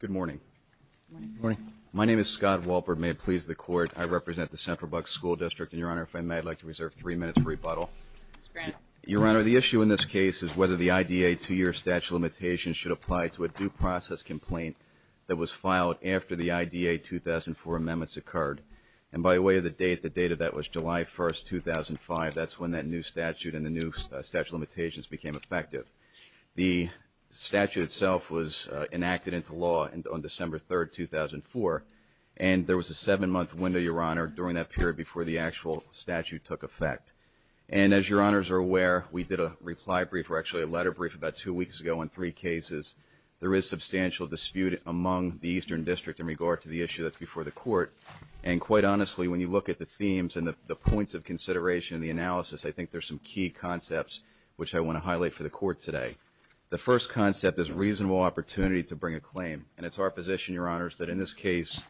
Good morning. Good morning. My name is Scott Walpert. May it please the Court, I represent the Central Bucks School District. And, Your Honor, if I may, I'd like to reserve three minutes for rebuttal. Mr. Grant. Your Honor, the issue in this case is whether the IDA two-year statute of limitations should apply to a due process complaint that was filed after the IDA 2004 amendments occurred. And by way of the date, the date of that was July 1st, 2005. That's when that new statute and the new statute of limitations became effective. The statute itself was enacted into law on December 3rd, 2004. And there was a seven-month window, Your Honor, during that period before the actual statute took effect. And as Your Honors are aware, we did a reply brief, or actually a letter brief, about two weeks ago on three cases. There is substantial dispute among the Eastern District in regard to the issue that's before the Court. And quite honestly, when you look at the themes and the points of consideration in the analysis, I think there's some key concepts which I want to highlight for the Court today. The first concept is reasonable opportunity to bring a claim. And it's our position, Your Honors, that in this case,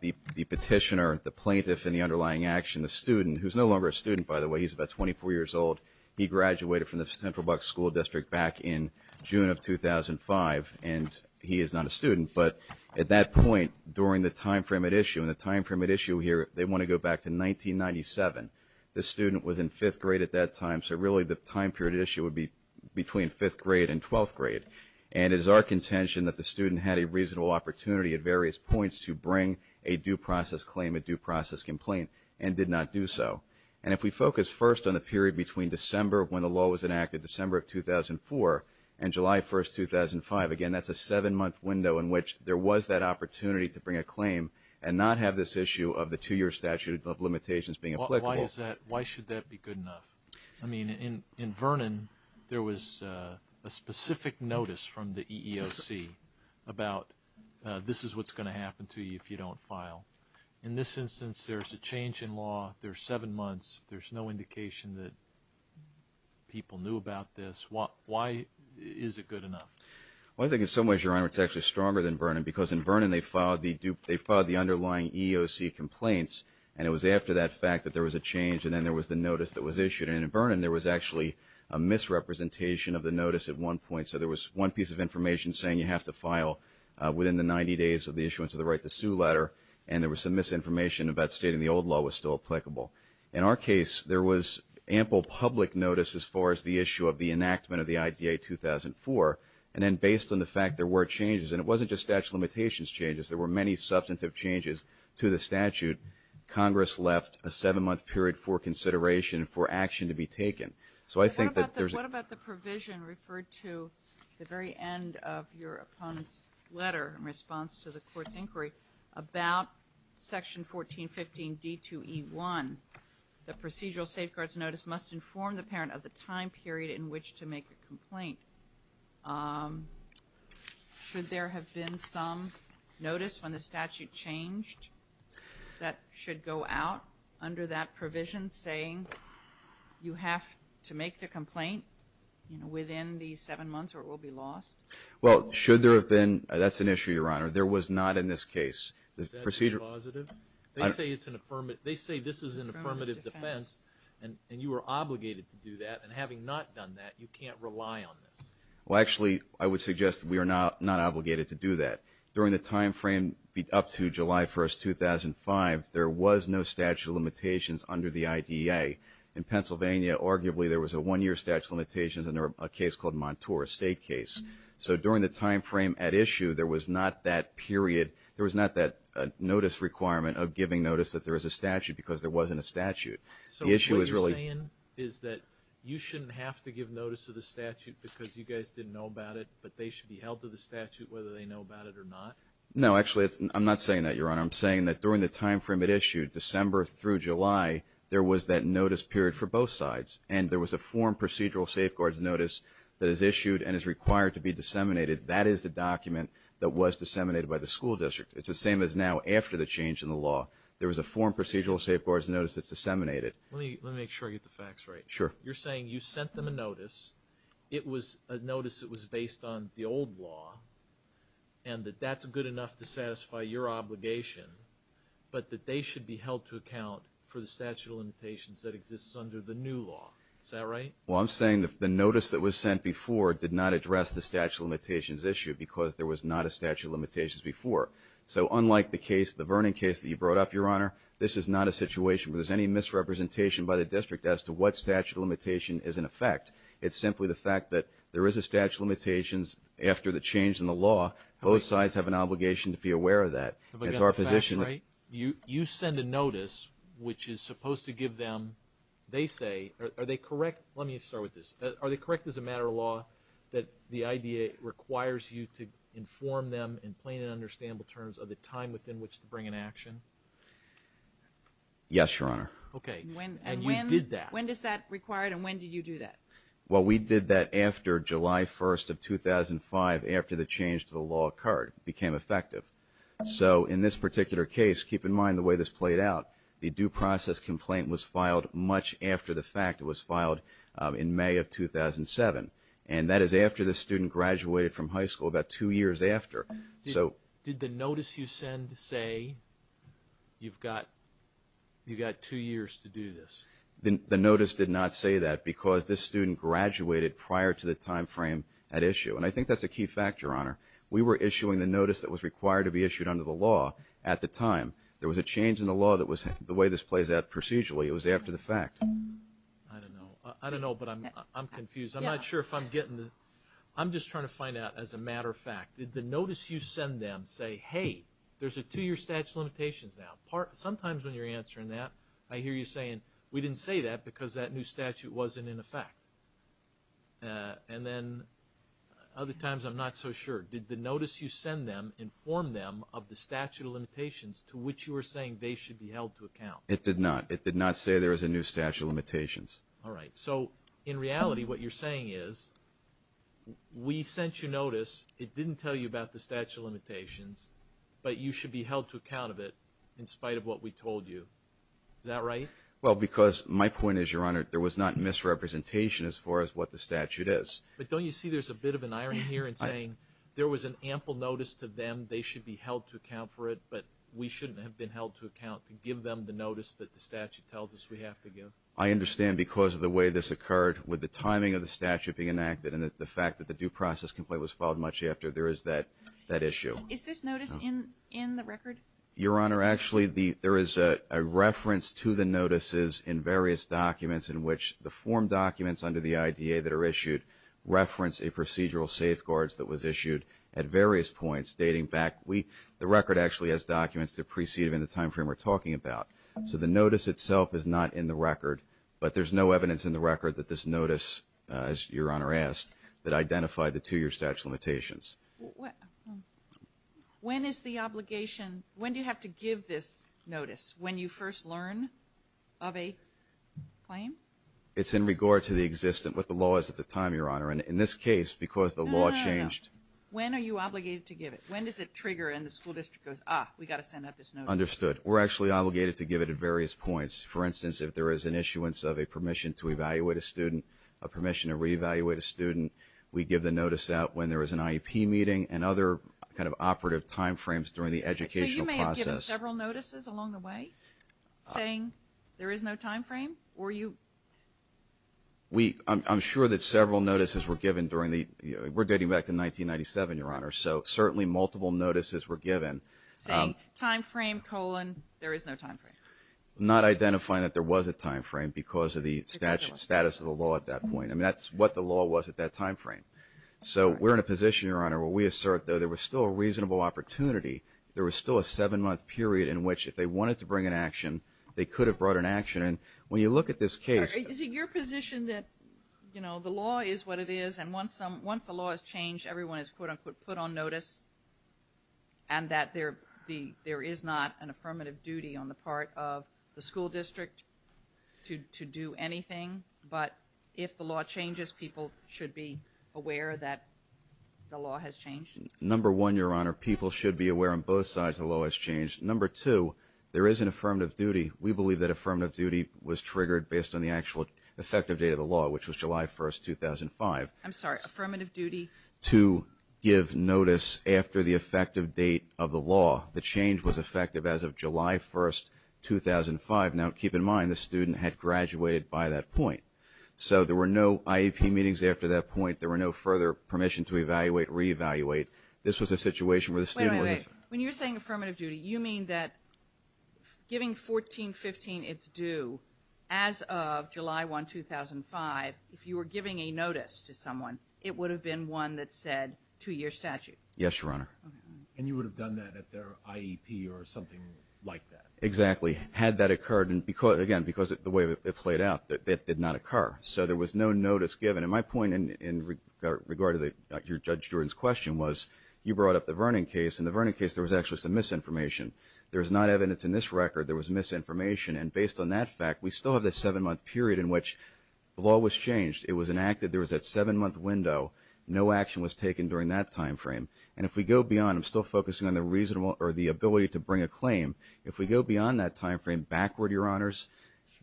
the petitioner, the plaintiff, and the underlying action, the student, who's no longer a student, by the way, he's about 24 years old, he graduated from the Central Bucks School District back in June of 2005, and he is not a student. But at that point during the time frame at issue, and the time frame at issue here, they want to go back to 1997. The student was in fifth grade at that time, so really the time period at issue would be between fifth grade and twelfth grade. And it is our contention that the student had a reasonable opportunity at various points to bring a due process claim, a due process complaint, and did not do so. And if we focus first on the period between December when the law was enacted, December of 2004, and July 1, 2005, again, that's a seven-month window in which there was that opportunity to bring a claim and not have this issue of the two-year statute of limitations being applicable. Why should that be good enough? I mean, in Vernon, there was a specific notice from the EEOC about this is what's going to happen to you if you don't file. In this instance, there's a change in law, there's seven months, there's no indication that people knew about this. Why is it good enough? Well, I think in some ways, Your Honor, it's actually stronger than Vernon because in Vernon, they filed the underlying EEOC complaints, and it was after that fact that there was a change, and then there was the notice that was issued. And in Vernon, there was actually a misrepresentation of the notice at one point. So there was one piece of information saying you have to file within the 90 days of the issuance of the right to sue letter, and there was some misinformation about stating the old law was still applicable. In our case, there was ample public notice as far as the issue of the enactment of the IDA 2004. And then based on the fact there were changes, and it wasn't just statute of limitations changes, there were many substantive changes to the statute, Congress left a seven-month period for consideration and for action to be taken. So I think that there's a... What about the provision referred to at the very end of your opponent's letter in response to the court's inquiry about Section 1415 D2E1, the procedural safeguards notice must inform the parent of the time period in which to make a complaint. Should there have been some notice when the statute changed that should go out under that provision saying you have to make the complaint within the seven months or it will be lost? Well, should there have been? That's an issue, Your Honor. There was not in this case. Is that a positive? They say it's an affirmative. They say this is an affirmative defense, and you are obligated to do that. And having not done that, you can't rely on this. Well, actually, I would suggest we are not obligated to do that. During the timeframe up to July 1, 2005, there was no statute of limitations under the IDA. In Pennsylvania, arguably, there was a one-year statute of limitations under a case called Montour, a state case. So during the timeframe at issue, there was not that period. There was not that notice requirement of giving notice that there was a statute because there wasn't a statute. So what you're saying is that you shouldn't have to give notice of the statute because you guys didn't know about it, but they should be held to the statute whether they know about it or not? No, actually, I'm not saying that, Your Honor. I'm saying that during the timeframe at issue, December through July, there was that notice period for both sides, and there was a form procedural safeguards notice that is issued and is required to be disseminated. That is the document that was disseminated by the school district. It's the same as now after the change in the law. There was a form procedural safeguards notice that's disseminated. Let me make sure I get the facts right. Sure. You're saying you sent them a notice. It was a notice that was based on the old law and that that's good enough to satisfy your obligation, but that they should be held to account for the statute of limitations that exists under the new law. Is that right? Well, I'm saying the notice that was sent before did not address the statute of limitations issue because there was not a statute of limitations before. So unlike the case, the Vernon case that you brought up, Your Honor, this is not a situation where there's any misrepresentation by the district as to what statute of limitation is in effect. It's simply the fact that there is a statute of limitations after the change in the law. Both sides have an obligation to be aware of that. Have I got the facts right? You send a notice, which is supposed to give them, they say, are they correct? Let me start with this. Are they correct as a matter of law that the IDA requires you to inform them in plain and understandable terms of the time within which to bring an action? Yes, Your Honor. Okay. And you did that. When does that require it and when did you do that? Well, we did that after July 1st of 2005, after the change to the law occurred. So in this particular case, keep in mind the way this played out, the due process complaint was filed much after the fact. It was filed in May of 2007. And that is after the student graduated from high school, about two years after. Did the notice you send say you've got two years to do this? The notice did not say that because this student graduated prior to the time frame at issue. And I think that's a key factor, Your Honor. We were issuing the notice that was required to be issued under the law at the time. There was a change in the law that was the way this plays out procedurally. It was after the fact. I don't know. I don't know, but I'm confused. I'm not sure if I'm getting it. I'm just trying to find out as a matter of fact. Did the notice you send them say, hey, there's a two-year statute of limitations now? Sometimes when you're answering that, I hear you saying, we didn't say that because that new statute wasn't in effect. And then other times I'm not so sure. Did the notice you send them inform them of the statute of limitations to which you were saying they should be held to account? It did not. It did not say there was a new statute of limitations. All right. So, in reality, what you're saying is we sent you notice, it didn't tell you about the statute of limitations, but you should be held to account of it in spite of what we told you. Is that right? Well, because my point is, Your Honor, there was not misrepresentation as far as what the statute is. But don't you see there's a bit of an irony here in saying there was an ample notice to them, they should be held to account for it, but we shouldn't have been held to account to give them the notice that the statute tells us we have to give? I understand because of the way this occurred, with the timing of the statute being enacted and the fact that the due process complaint was filed much after, there is that issue. Is this notice in the record? Your Honor, actually, there is a reference to the notices in various documents in which the form documents under the IDA that are issued reference a procedural safeguards that was issued at various points dating back. The record actually has documents that precede it in the time frame we're talking about. So the notice itself is not in the record, but there's no evidence in the record that this notice, as Your Honor asked, that identified the two-year statute of limitations. When is the obligation, when do you have to give this notice? When you first learn of a claim? It's in regard to the existing, what the law is at the time, Your Honor, and in this case, because the law changed. No, no, no. When are you obligated to give it? When does it trigger and the school district goes, ah, we've got to send out this notice? Understood. We're actually obligated to give it at various points. For instance, if there is an issuance of a permission to evaluate a student, a permission to reevaluate a student, we give the notice out when there is an IEP meeting and other kind of operative time frames during the educational process. So you may have given several notices along the way saying there is no time frame, or you? We, I'm sure that several notices were given during the, we're dating back to 1997, Your Honor, so certainly multiple notices were given. Saying time frame, colon, there is no time frame. Not identifying that there was a time frame because of the status of the law at that point. I mean, that's what the law was at that time frame. So we're in a position, Your Honor, where we assert that there was still a reasonable opportunity. There was still a seven-month period in which if they wanted to bring an action, they could have brought an action, and when you look at this case. Is it your position that, you know, the law is what it is, and once the law has changed, everyone is, quote, unquote, put on notice, and that there is not an affirmative duty on the part of the school district to do anything, but if the law changes, people should be aware that the law has changed? Number one, Your Honor, people should be aware on both sides the law has changed. Number two, there is an affirmative duty. We believe that affirmative duty was triggered based on the actual effective date of the law, which was July 1, 2005. I'm sorry, affirmative duty? To give notice after the effective date of the law. The change was effective as of July 1, 2005. Now, keep in mind, the student had graduated by that point, so there were no IEP meetings after that point. There were no further permission to evaluate, re-evaluate. This was a situation where the student was. Wait, wait, wait. When you're saying affirmative duty, you mean that giving 14-15 its due as of July 1, 2005, if you were giving a notice to someone, it would have been one that said two-year statute? Yes, Your Honor. And you would have done that at their IEP or something like that? Exactly. Had that occurred, again, because of the way it played out, that did not occur. So there was no notice given. And my point in regard to your Judge Jordan's question was you brought up the Vernon case. In the Vernon case, there was actually some misinformation. There is not evidence in this record there was misinformation. And based on that fact, we still have a seven-month period in which the law was changed. It was enacted. There was that seven-month window. No action was taken during that time frame. And if we go beyond, I'm still focusing on the ability to bring a claim. If we go beyond that time frame backward, Your Honors,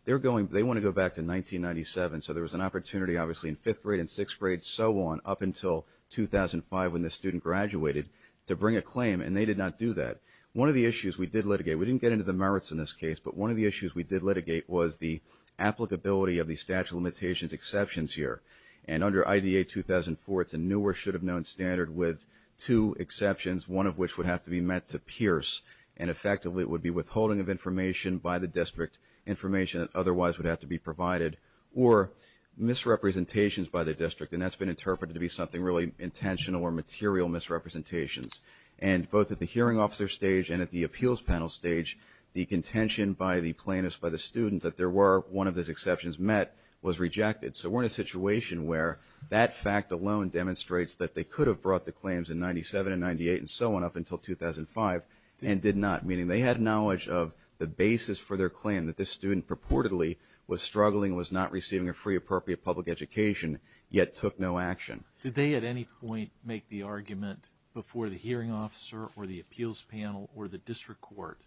they want to go back to 1997. So there was an opportunity, obviously, in fifth grade and sixth grade, so on, up until 2005 when this student graduated to bring a claim. And they did not do that. One of the issues we did litigate, we didn't get into the merits in this case, but one of the issues we did litigate was the applicability of the statute of limitations exceptions here. And under IDA 2004, it's a newer, should-have-known standard with two exceptions, one of which would have to be met to pierce, and effectively it would be withholding of information by the district, information that otherwise would have to be provided, or misrepresentations by the district, and that's been interpreted to be something really intentional or material misrepresentations. And both at the hearing officer stage and at the appeals panel stage, the contention by the plaintiffs, by the student, that there were one of those exceptions met was rejected. So we're in a situation where that fact alone demonstrates that they could have brought the claims in 97 and 98 and so on up until 2005 and did not, meaning they had knowledge of the basis for their claim that this student purportedly was struggling, was not receiving a free appropriate public education, yet took no action. Did they at any point make the argument before the hearing officer or the appeals panel or the district court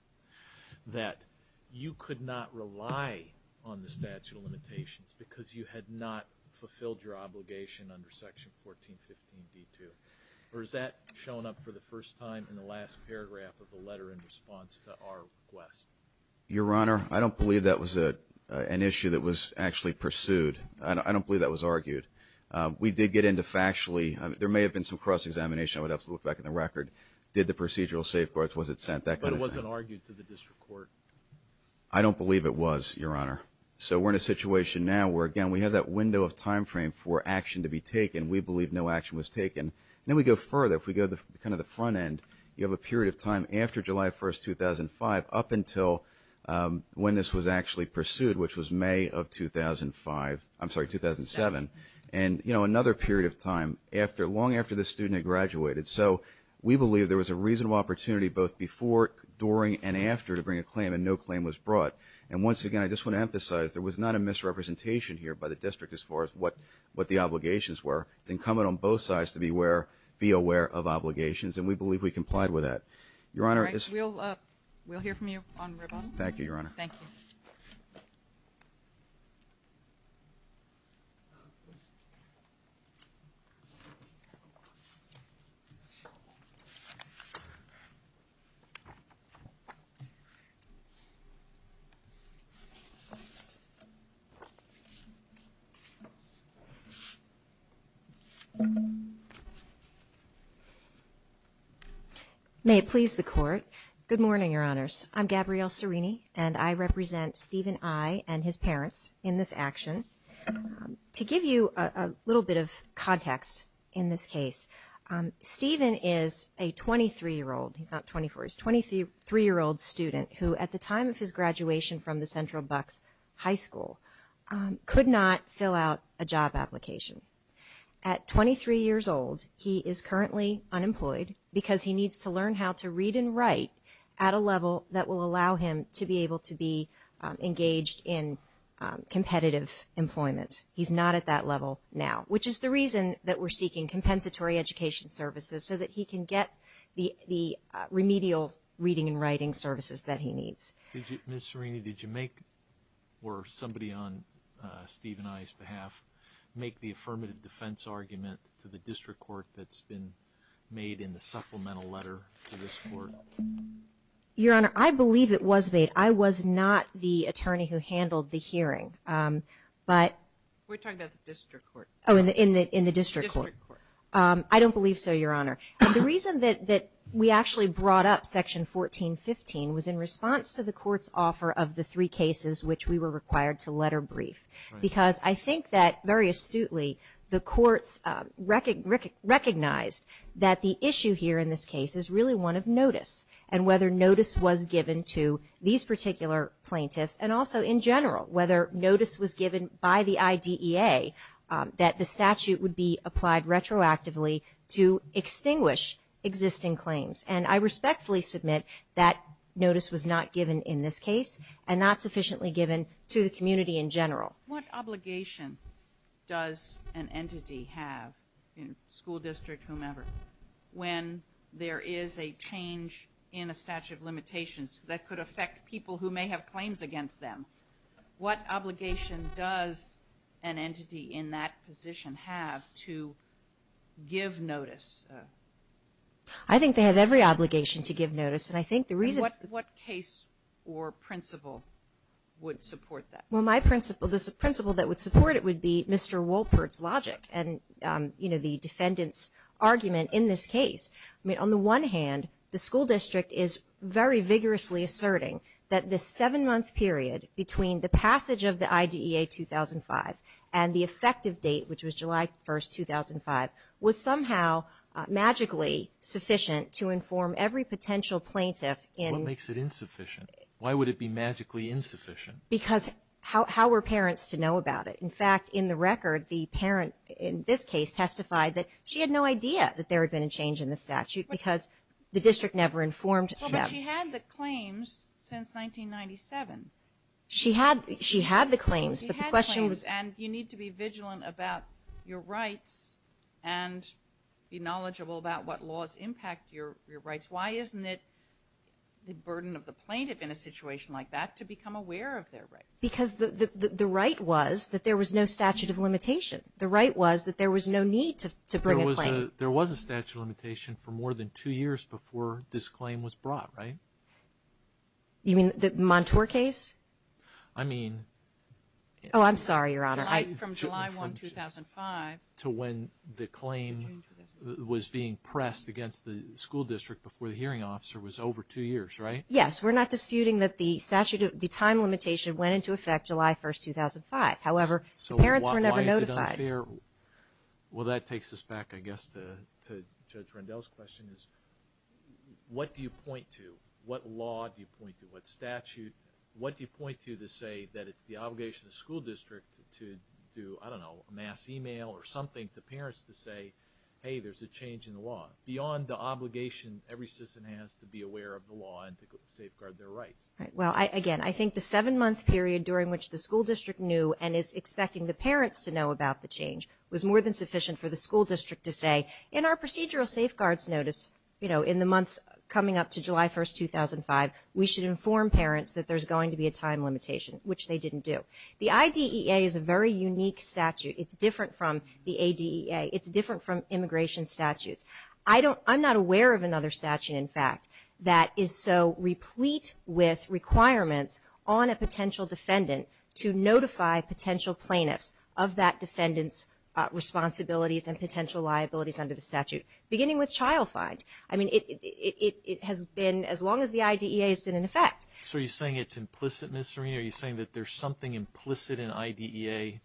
that you could not rely on the statute of limitations because you had not fulfilled your obligation under section 1415D2? Or has that shown up for the first time in the last paragraph of the letter in response to our request? Your Honor, I don't believe that was an issue that was actually pursued. I don't believe that was argued. We did get into factually. There may have been some cross-examination. I would have to look back in the record. Did the procedural safeguards, was it sent? That kind of thing. But it wasn't argued to the district court? I don't believe it was, Your Honor. So we're in a situation now where, again, we have that window of time frame for action to be taken. We believe no action was taken. And then we go further. If we go to kind of the front end, you have a period of time after July 1, 2005, up until when this was actually pursued, which was May of 2005. I'm sorry, 2007. And, you know, another period of time, long after this student had graduated. So we believe there was a reasonable opportunity both before, during, and after to bring a claim, and no claim was brought. And once again, I just want to emphasize there was not a misrepresentation here by the district as far as what the obligations were. It's incumbent on both sides to be aware of obligations. And we believe we complied with that. All right. We'll hear from you on Ribbon. Thank you, Your Honor. Thank you. May it please the Court. Good morning, Your Honors. I'm Gabrielle Cerini, and I represent Stephen I. and his parents in this action. To give you a little bit of context in this case, Stephen is a 23-year-old. He's not 24. He's a 23-year-old student who, at the time of his graduation from the Central Bucks High School, could not fill out a job application. At 23 years old, he is currently unemployed because he needs to learn how to read and write at a level that will allow him to be able to be engaged in competitive employment. He's not at that level now, which is the reason that we're seeking compensatory education services so that he can get the remedial reading and writing services that he needs. Ms. Cerini, did you make or somebody on Stephen I.'s behalf make the affirmative defense argument to the district court that's been made in the supplemental letter to this court? Your Honor, I believe it was made. I was not the attorney who handled the hearing. We're talking about the district court. Oh, in the district court. District court. I don't believe so, Your Honor. The reason that we actually brought up Section 1415 was in response to the court's offer of the three cases which we were required to letter brief because I think that, very astutely, the courts recognized that the issue here in this case is really one of notice and whether notice was given to these particular plaintiffs and also, in general, whether notice was given by the IDEA that the statute would be applied retroactively to extinguish existing claims. And I respectfully submit that notice was not given in this case and not sufficiently given to the community in general. What obligation does an entity have, school district, whomever, when there is a change in a statute of limitations that could affect people who may have claims against them what obligation does an entity in that position have to give notice? I think they have every obligation to give notice. And I think the reason... What case or principle would support that? Well, my principle, the principle that would support it would be Mr. Wolpert's logic and, you know, the defendant's argument in this case. I mean, on the one hand, the school district is very vigorously asserting that the seven-month period between the passage of the IDEA 2005 and the effective date, which was July 1, 2005, was somehow magically sufficient to inform every potential plaintiff in... What makes it insufficient? Why would it be magically insufficient? Because how were parents to know about it? In fact, in the record, the parent in this case testified that she had no idea that there had been a change in the statute because the district never informed them. Well, but she had the claims since 1997. She had the claims, but the question was... She had the claims, and you need to be vigilant about your rights and be knowledgeable about what laws impact your rights. Why isn't it the burden of the plaintiff in a situation like that to become aware of their rights? Because the right was that there was no statute of limitation. The right was that there was no need to bring a claim. There was a statute of limitation for more than two years before this claim was brought, right? You mean the Montour case? I mean... Oh, I'm sorry, Your Honor. From July 1, 2005... To when the claim was being pressed against the school district before the hearing officer was over two years, right? Yes, we're not disputing that the statute of the time limitation went into effect July 1, 2005. However, the parents were never notified. So why is it unfair? Well, that takes us back, I guess, to Judge Rendell's question. What do you point to? What law do you point to? What statute? What do you point to to say that it's the obligation of the school district to do, I don't know, a mass email or something to parents to say, hey, there's a change in the law? Beyond the obligation every citizen has to be aware of the law and to safeguard their rights. Well, again, I think the seven-month period during which the school district knew and is expecting the parents to know about the change was more than sufficient for the school district to say, in our procedural safeguards notice in the months coming up to July 1, 2005, we should inform parents that there's going to be a time limitation, which they didn't do. The IDEA is a very unique statute. It's different from the ADEA. It's different from immigration statutes. I'm not aware of another statute, in fact, that is so replete with requirements on a potential defendant to notify potential plaintiffs of that defendant's responsibilities and potential liabilities under the statute, beginning with child find. I mean, it has been as long as the IDEA has been in effect. So are you saying it's implicit, Ms. Serena? Are you saying that there's something implicit in IDEA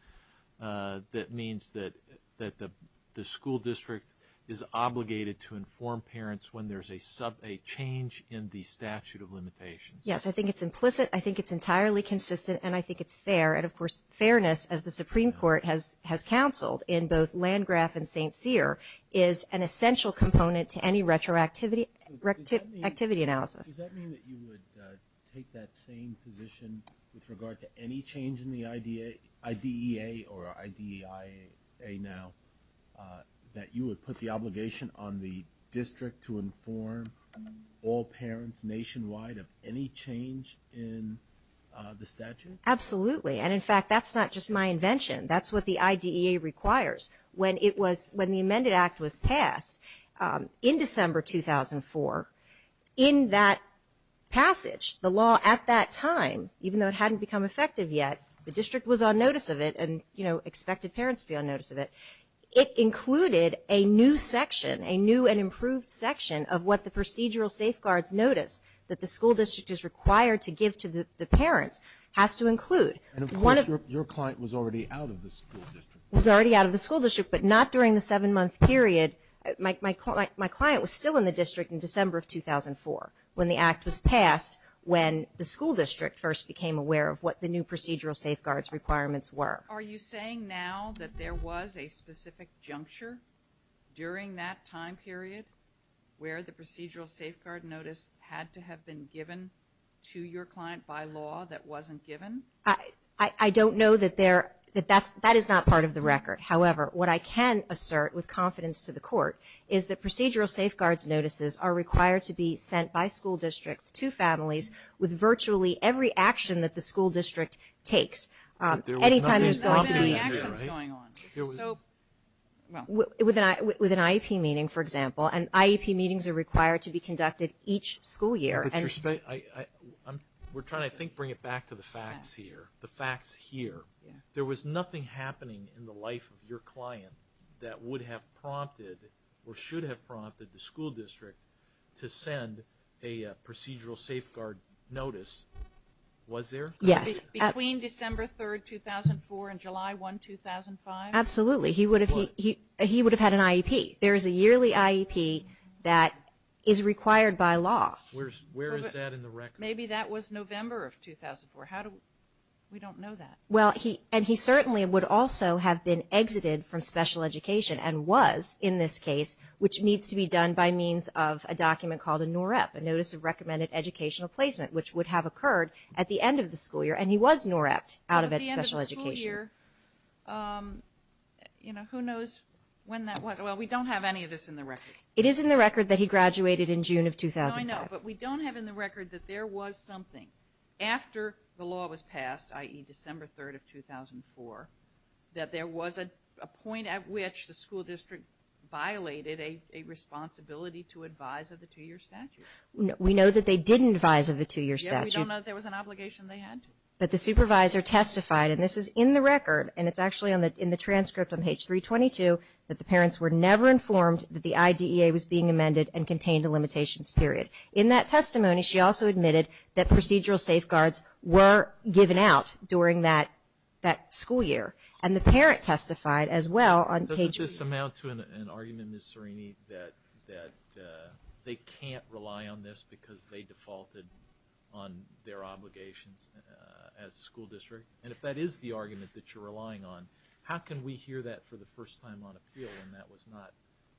that means that the school district is obligated to inform parents when there's a change in the statute of limitations? Yes, I think it's implicit. I think it's entirely consistent. And I think it's fair. And, of course, fairness, as the Supreme Court has counseled in both Landgraf and St. Cyr, is an essential component to any retroactivity analysis. Does that mean that you would take that same position with regard to any change in the IDEA or IDEA now, that you would put the obligation on the district to inform all parents nationwide of any change in the statute? Absolutely. And, in fact, that's not just my invention. That's what the IDEA requires. When the amended act was passed in December 2004, in that passage, the law at that time, even though it hadn't become effective yet, the district was on notice of it and expected parents to be on notice of it. It included a new section, a new and improved section, of what the procedural safeguards notice that the school district is required to give to the parents has to include. And, of course, your client was already out of the school district. Was already out of the school district, but not during the seven-month period. My client was still in the district in December of 2004, when the act was passed, when the school district first became aware of what the new procedural safeguards requirements were. Are you saying now that there was a specific juncture during that time period where the procedural safeguard notice had to have been given to your client by law that wasn't given? I don't know that that is not part of the record. However, what I can assert with confidence to the court is that procedural safeguards notices are required to be sent by school districts to families with virtually every action that the school district takes. There was nothing prompting there, right? Anytime there's going to be actions going on. With an IEP meeting, for example, and IEP meetings are required to be conducted each school year. Patricia, we're trying to, I think, bring it back to the facts here. The facts here. There was nothing happening in the life of your client that would have prompted or should have prompted the school district to send a procedural safeguard notice. Was there? Yes. Between December 3, 2004 and July 1, 2005? Absolutely. He would have had an IEP. There is a yearly IEP that is required by law. Where is that in the record? Maybe that was November of 2004. We don't know that. Well, and he certainly would also have been exited from special education and was in this case, which needs to be done by means of a document called a NOREP, a Notice of Recommended Educational Placement, which would have occurred at the end of the school year, and he was NOREPed out of special education. Who knows when that was? Well, we don't have any of this in the record. It is in the record that he graduated in June of 2005. I know, but we don't have in the record that there was something after the law was passed, i.e., December 3, 2004, that there was a point at which the school district violated a responsibility to advise of the two-year statute. We know that they didn't advise of the two-year statute. We don't know that there was an obligation they had to. But the supervisor testified, and this is in the record, and it's actually in the transcript on page 322, that the parents were never informed that the IDEA was being amended and contained a limitations period. In that testimony, she also admitted that procedural safeguards were given out during that school year. And the parent testified as well on page 3. Doesn't this amount to an argument, Ms. Cerini, that they can't rely on this because they defaulted on their obligations as a school district? And if that is the argument that you're relying on, how can we hear that for the first time on appeal when that was not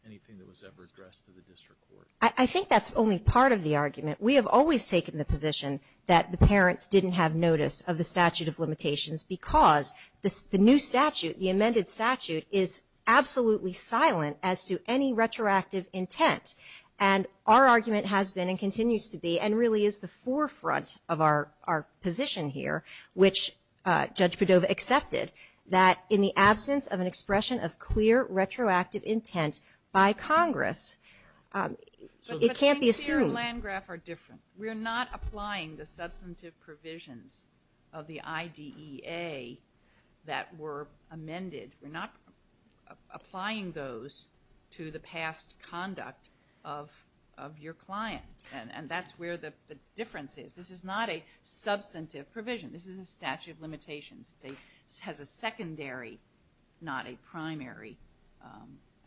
anything that was ever addressed to the district court? I think that's only part of the argument. We have always taken the position that the parents didn't have notice of the statute of limitations because the new statute, the amended statute, is absolutely silent as to any retroactive intent. And our argument has been and continues to be and really is the forefront of our position here, which Judge Padova accepted, that in the absence of an expression of clear retroactive intent by Congress, it can't be assumed. But Sincere and Landgraf are different. We're not applying the substantive provisions of the IDEA that were amended. We're not applying those to the past conduct of your client. And that's where the difference is. This is not a substantive provision. This is a statute of limitations. It has a secondary, not a primary,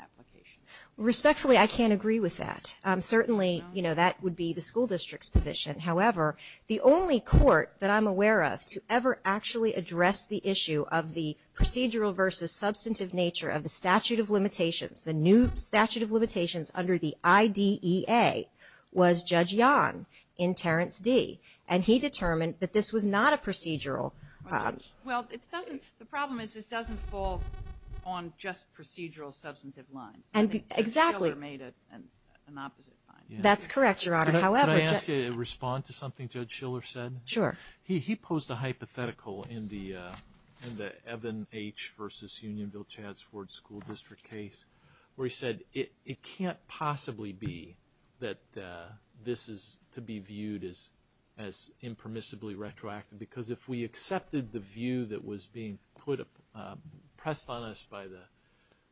application. Respectfully, I can't agree with that. Certainly, you know, that would be the school district's position. However, the only court that I'm aware of to ever actually address the issue of the procedural versus substantive nature of the statute of limitations, the new statute of limitations under the IDEA, was Judge Young in Terrence D. And he determined that this was not a procedural. Well, the problem is it doesn't fall on just procedural substantive lines. Exactly. Judge Schiller made an opposite finding. That's correct, Your Honor. Can I ask you to respond to something Judge Schiller said? Sure. He posed a hypothetical in the Evan H. v. Unionville-Chads Ford School District case where he said, it can't possibly be that this is to be viewed as impermissibly retroactive. Because if we accepted the view that was being pressed on us by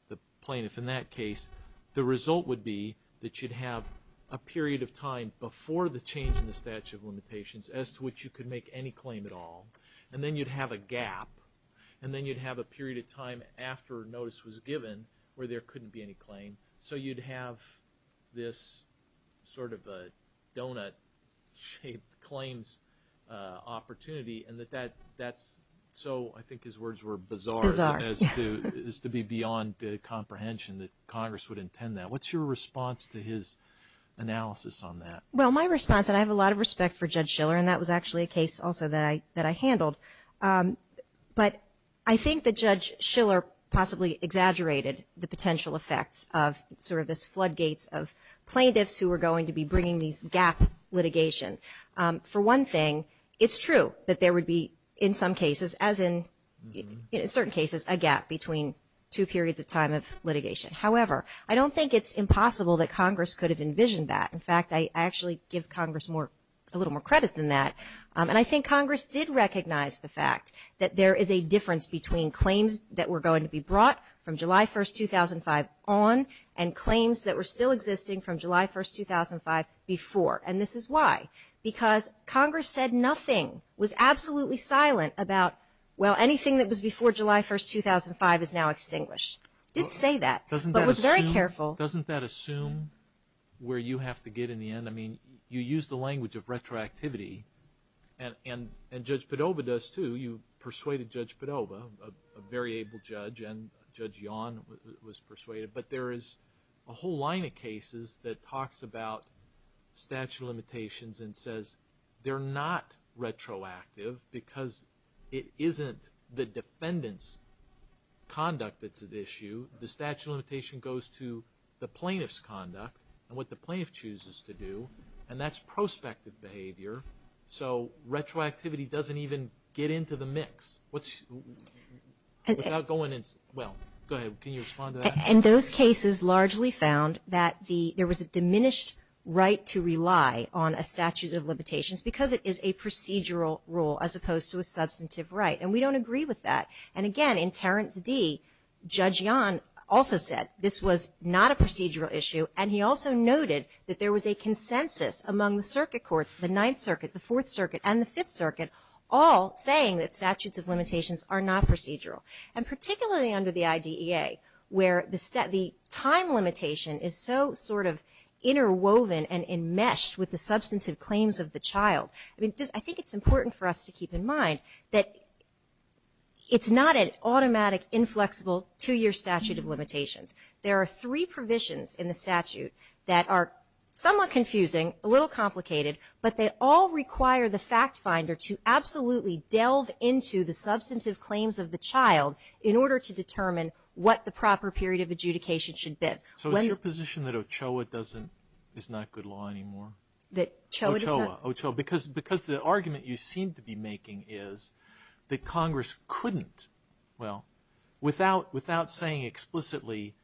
the plaintiff in that case, the result would be that you'd have a period of time before the change in the statute of limitations as to which you could make any claim at all. And then you'd have a gap. And then you'd have a period of time after notice was given where there couldn't be any claim. So you'd have this sort of a donut-shaped claims opportunity. So I think his words were bizarre. Bizarre. Bizarre is to be beyond the comprehension that Congress would intend that. What's your response to his analysis on that? Well, my response, and I have a lot of respect for Judge Schiller, and that was actually a case also that I handled. But I think that Judge Schiller possibly exaggerated the potential effects of sort of this floodgates of plaintiffs who were going to be bringing these gap litigation. For one thing, it's true that there would be in some cases, as in certain cases, a gap between two periods of time of litigation. However, I don't think it's impossible that Congress could have envisioned that. In fact, I actually give Congress a little more credit than that. And I think Congress did recognize the fact that there is a difference between claims that were going to be brought from July 1, 2005 on and claims that were still existing from July 1, 2005 before. And this is why, because Congress said nothing, was absolutely silent about, well, anything that was before July 1, 2005 is now extinguished. It did say that, but was very careful. Doesn't that assume where you have to get in the end? I mean, you use the language of retroactivity, and Judge Padova does too. You persuaded Judge Padova, a very able judge, and Judge Yawn was persuaded. But there is a whole line of cases that talks about statute of limitations and says they're not retroactive because it isn't the defendant's conduct that's at issue. The statute of limitation goes to the plaintiff's conduct and what the plaintiff chooses to do, and that's prospective behavior. So retroactivity doesn't even get into the mix. Without going into, well, go ahead. Can you respond to that? And those cases largely found that there was a diminished right to rely on a statute of limitations because it is a procedural rule as opposed to a substantive right, and we don't agree with that. And again, in Terrence D., Judge Yawn also said this was not a procedural issue, and he also noted that there was a consensus among the circuit courts, the Ninth Circuit, the Fourth Circuit, and the Fifth Circuit, all saying that statutes of limitations are not procedural, and particularly under the IDEA where the time limitation is so sort of interwoven and enmeshed with the substantive claims of the child. I think it's important for us to keep in mind that it's not an automatic, inflexible, two-year statute of limitations. There are three provisions in the statute that are somewhat confusing, a little complicated, but they all require the fact finder to absolutely delve into the substantive claims of the child in order to determine what the proper period of adjudication should be. So is it your position that OCHOA is not good law anymore? That OCHOA is not? OCHOA. Because the argument you seem to be making is that Congress couldn't, well, without saying explicitly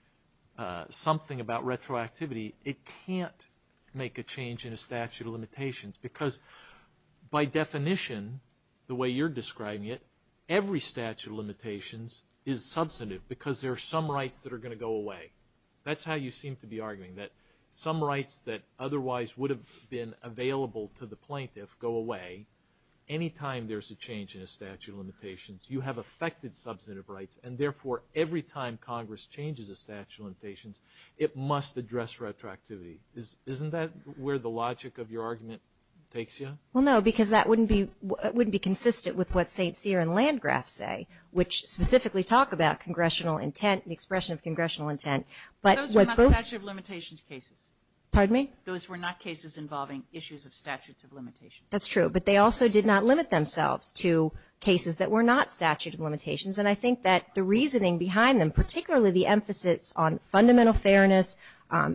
something about retroactivity, it can't make a change in a statute of limitations because by definition, the way you're describing it, every statute of limitations is substantive because there are some rights that are going to go away. That's how you seem to be arguing, that some rights that otherwise would have been available to the plaintiff go away. Anytime there's a change in a statute of limitations, you have affected substantive rights, and therefore every time Congress changes a statute of limitations, it must address retroactivity. Isn't that where the logic of your argument takes you? Well, no, because that wouldn't be consistent with what St. Cyr and Landgraf say, which specifically talk about congressional intent, the expression of congressional intent. Those were not statute of limitations cases. Pardon me? Those were not cases involving issues of statutes of limitations. That's true. But they also did not limit themselves to cases that were not statute of limitations. And I think that the reasoning behind them, particularly the emphasis on fundamental fairness,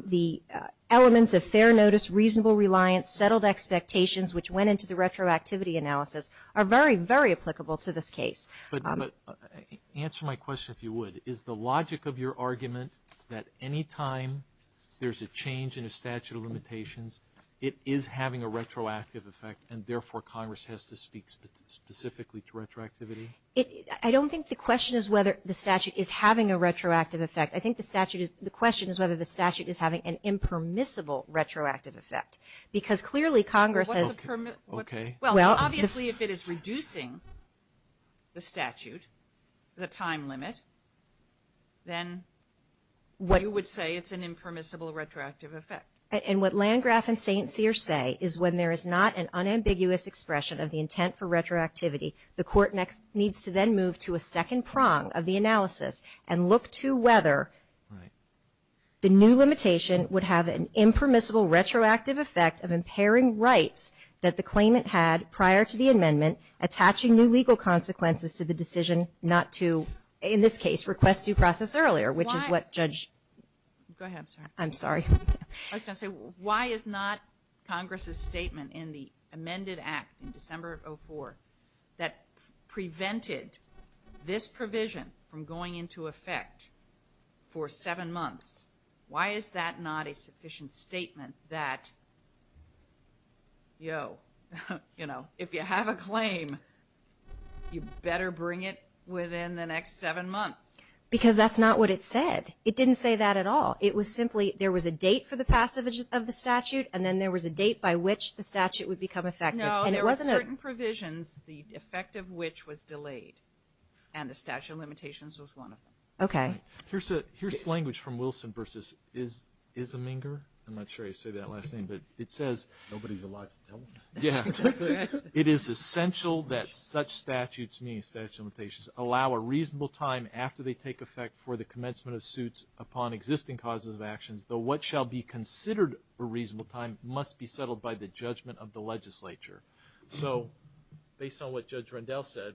the elements of fair notice, reasonable reliance, settled expectations, which went into the retroactivity analysis, are very, very applicable to this case. But answer my question, if you would. Is the logic of your argument that anytime there's a change in a statute of limitations, it is having a retroactive effect, and therefore Congress has to speak specifically to retroactivity? I don't think the question is whether the statute is having a retroactive effect. I think the statute is the question is whether the statute is having an impermissible retroactive effect, because clearly Congress has. Okay. Well, obviously if it is reducing the statute, the time limit, then you would say it's an impermissible retroactive effect. And what Landgraf and St. Cyr say is when there is not an unambiguous expression of the intent for retroactivity, the court needs to then move to a second prong of the analysis and look to whether the new limitation would have an impermissible retroactive effect of impairing rights that the claimant had prior to the amendment, attaching new legal consequences to the decision not to, in this case, request due process earlier, which is what Judge ---- Go ahead. I'm sorry. I was going to say, why is not Congress's statement in the amended act in December of 2004 that prevented this provision from going into effect for seven months? Why is that not a sufficient statement that, yo, you know, if you have a claim, you better bring it within the next seven months? Because that's not what it said. It didn't say that at all. It was simply there was a date for the passage of the statute, and then there was a date by which the statute would become effective. No, there were certain provisions, the effect of which was delayed, and the statute of limitations was one of them. Okay. Here's language from Wilson versus Isminger. I'm not sure I say that last name, but it says ---- Nobody's alive to tell us. Yeah. It is essential that such statutes, meaning statute of limitations, allow a reasonable time after they take effect for the commencement of suits upon existing causes of actions, though what shall be considered a reasonable time must be settled by the judgment of the legislature. So based on what Judge Rendell said,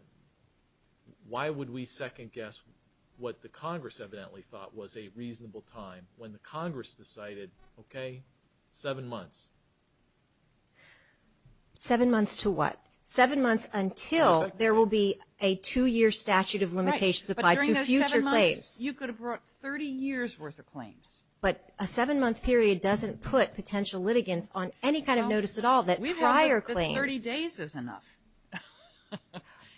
why would we second-guess what the Congress evidently thought was a reasonable time when the Congress decided, okay, seven months? Seven months to what? Seven months until there will be a two-year statute of limitations applied to future claims. You could have brought 30 years' worth of claims. But a seven-month period doesn't put potential litigants on any kind of notice at all that prior claims ---- We want that 30 days is enough.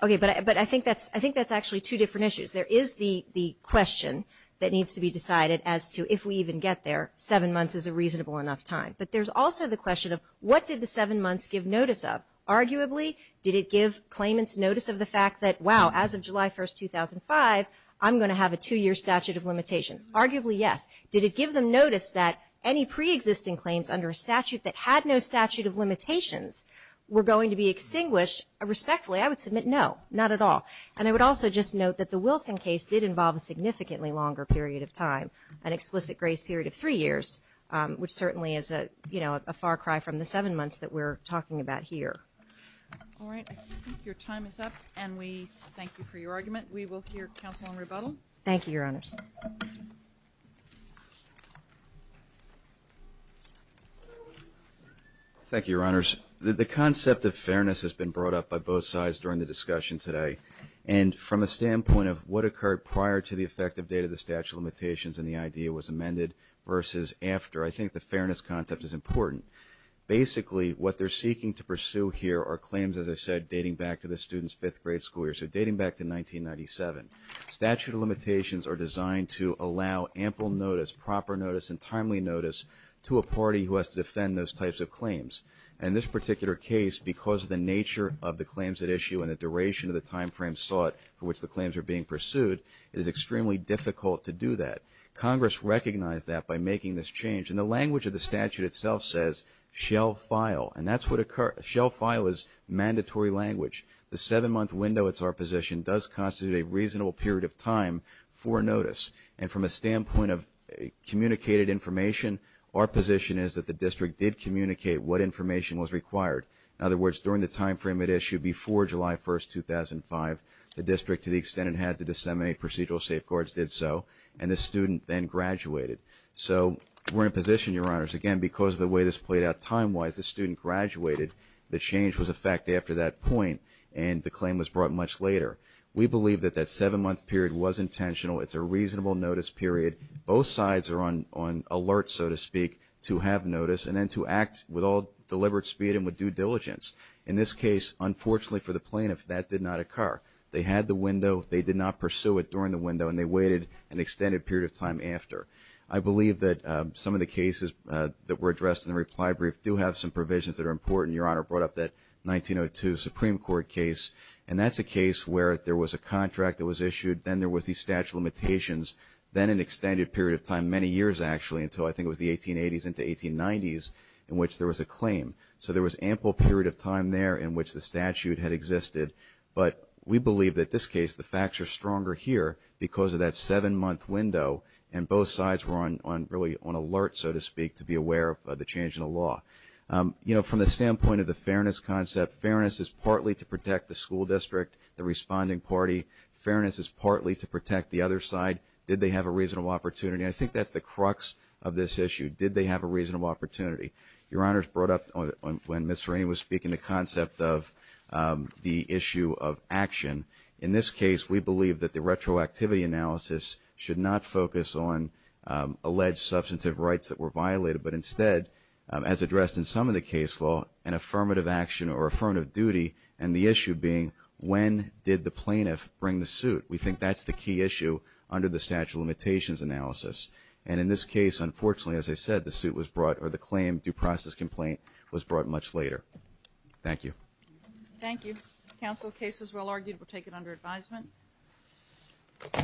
Okay. But I think that's actually two different issues. There is the question that needs to be decided as to if we even get there, seven months is a reasonable enough time. But there's also the question of what did the seven months give notice of? Arguably, did it give claimants notice of the fact that, wow, as of July 1, 2005, I'm going to have a two-year statute of limitations? Arguably, yes. Did it give them notice that any preexisting claims under a statute that had no statute of limitations were going to be extinguished? Respectfully, I would submit no, not at all. And I would also just note that the Wilson case did involve a significantly longer period of time, an explicit grace period of three years, which certainly is a, you know, a far cry from the seven months that we're talking about here. All right. I think your time is up, and we thank you for your argument. We will hear counsel in rebuttal. Thank you, Your Honors. Thank you, Your Honors. The concept of fairness has been brought up by both sides during the discussion today, and from a standpoint of what occurred prior to the effective date of the statute of limitations and the idea was amended versus after, I think the fairness concept is important. Basically, what they're seeking to pursue here are claims, as I said, dating back to the student's fifth grade school year. So dating back to 1997. Statute of limitations are designed to allow ample notice, proper notice, and timely notice to a party who has to defend those types of claims. And in this particular case, because of the nature of the claims at issue and the duration of the time frame sought for which the claims are being pursued, it is extremely difficult to do that. Congress recognized that by making this change. And the language of the statute itself says, shall file. And that's what occurs. Shall file is mandatory language. The seven-month window, it's our position, does constitute a reasonable period of time for notice. And from a standpoint of communicated information, our position is that the district did communicate what information was required. In other words, during the time frame at issue before July 1st, 2005, the district, to the extent it had to disseminate procedural safeguards, did so. And the student then graduated. So we're in a position, Your Honors, again, because of the way this played out time-wise, the student graduated. The change was effective after that point. And the claim was brought much later. We believe that that seven-month period was intentional. It's a reasonable notice period. Both sides are on alert, so to speak, to have notice and then to act with all deliberate speed and with due diligence. In this case, unfortunately for the plaintiff, that did not occur. They had the window. They did not pursue it during the window. And they waited an extended period of time after. I believe that some of the cases that were addressed in the reply brief do have some provisions that are important. Your Honor brought up that 1902 Supreme Court case. And that's a case where there was a contract that was issued. Then there was the statute of limitations. Then an extended period of time, many years actually, until I think it was the 1880s into 1890s, in which there was a claim. So there was ample period of time there in which the statute had existed. But we believe that this case, the facts are stronger here because of that seven-month window. And both sides were really on alert, so to speak, to be aware of the change in the law. You know, from the standpoint of the fairness concept, fairness is partly to protect the school district, the responding party. Fairness is partly to protect the other side. Did they have a reasonable opportunity? I think that's the crux of this issue. Did they have a reasonable opportunity? Your Honors brought up when Ms. Serrini was speaking the concept of the issue of action. In this case, we believe that the retroactivity analysis should not focus on alleged substantive rights that were violated, but instead, as addressed in some of the case law, an affirmative action or affirmative duty, and the issue being when did the plaintiff bring the suit. We think that's the key issue under the statute of limitations analysis. And in this case, unfortunately, as I said, the suit was brought, or the claim due process complaint was brought much later. Thank you. Thank you. Counsel, the case was well argued. We'll take it under advisement.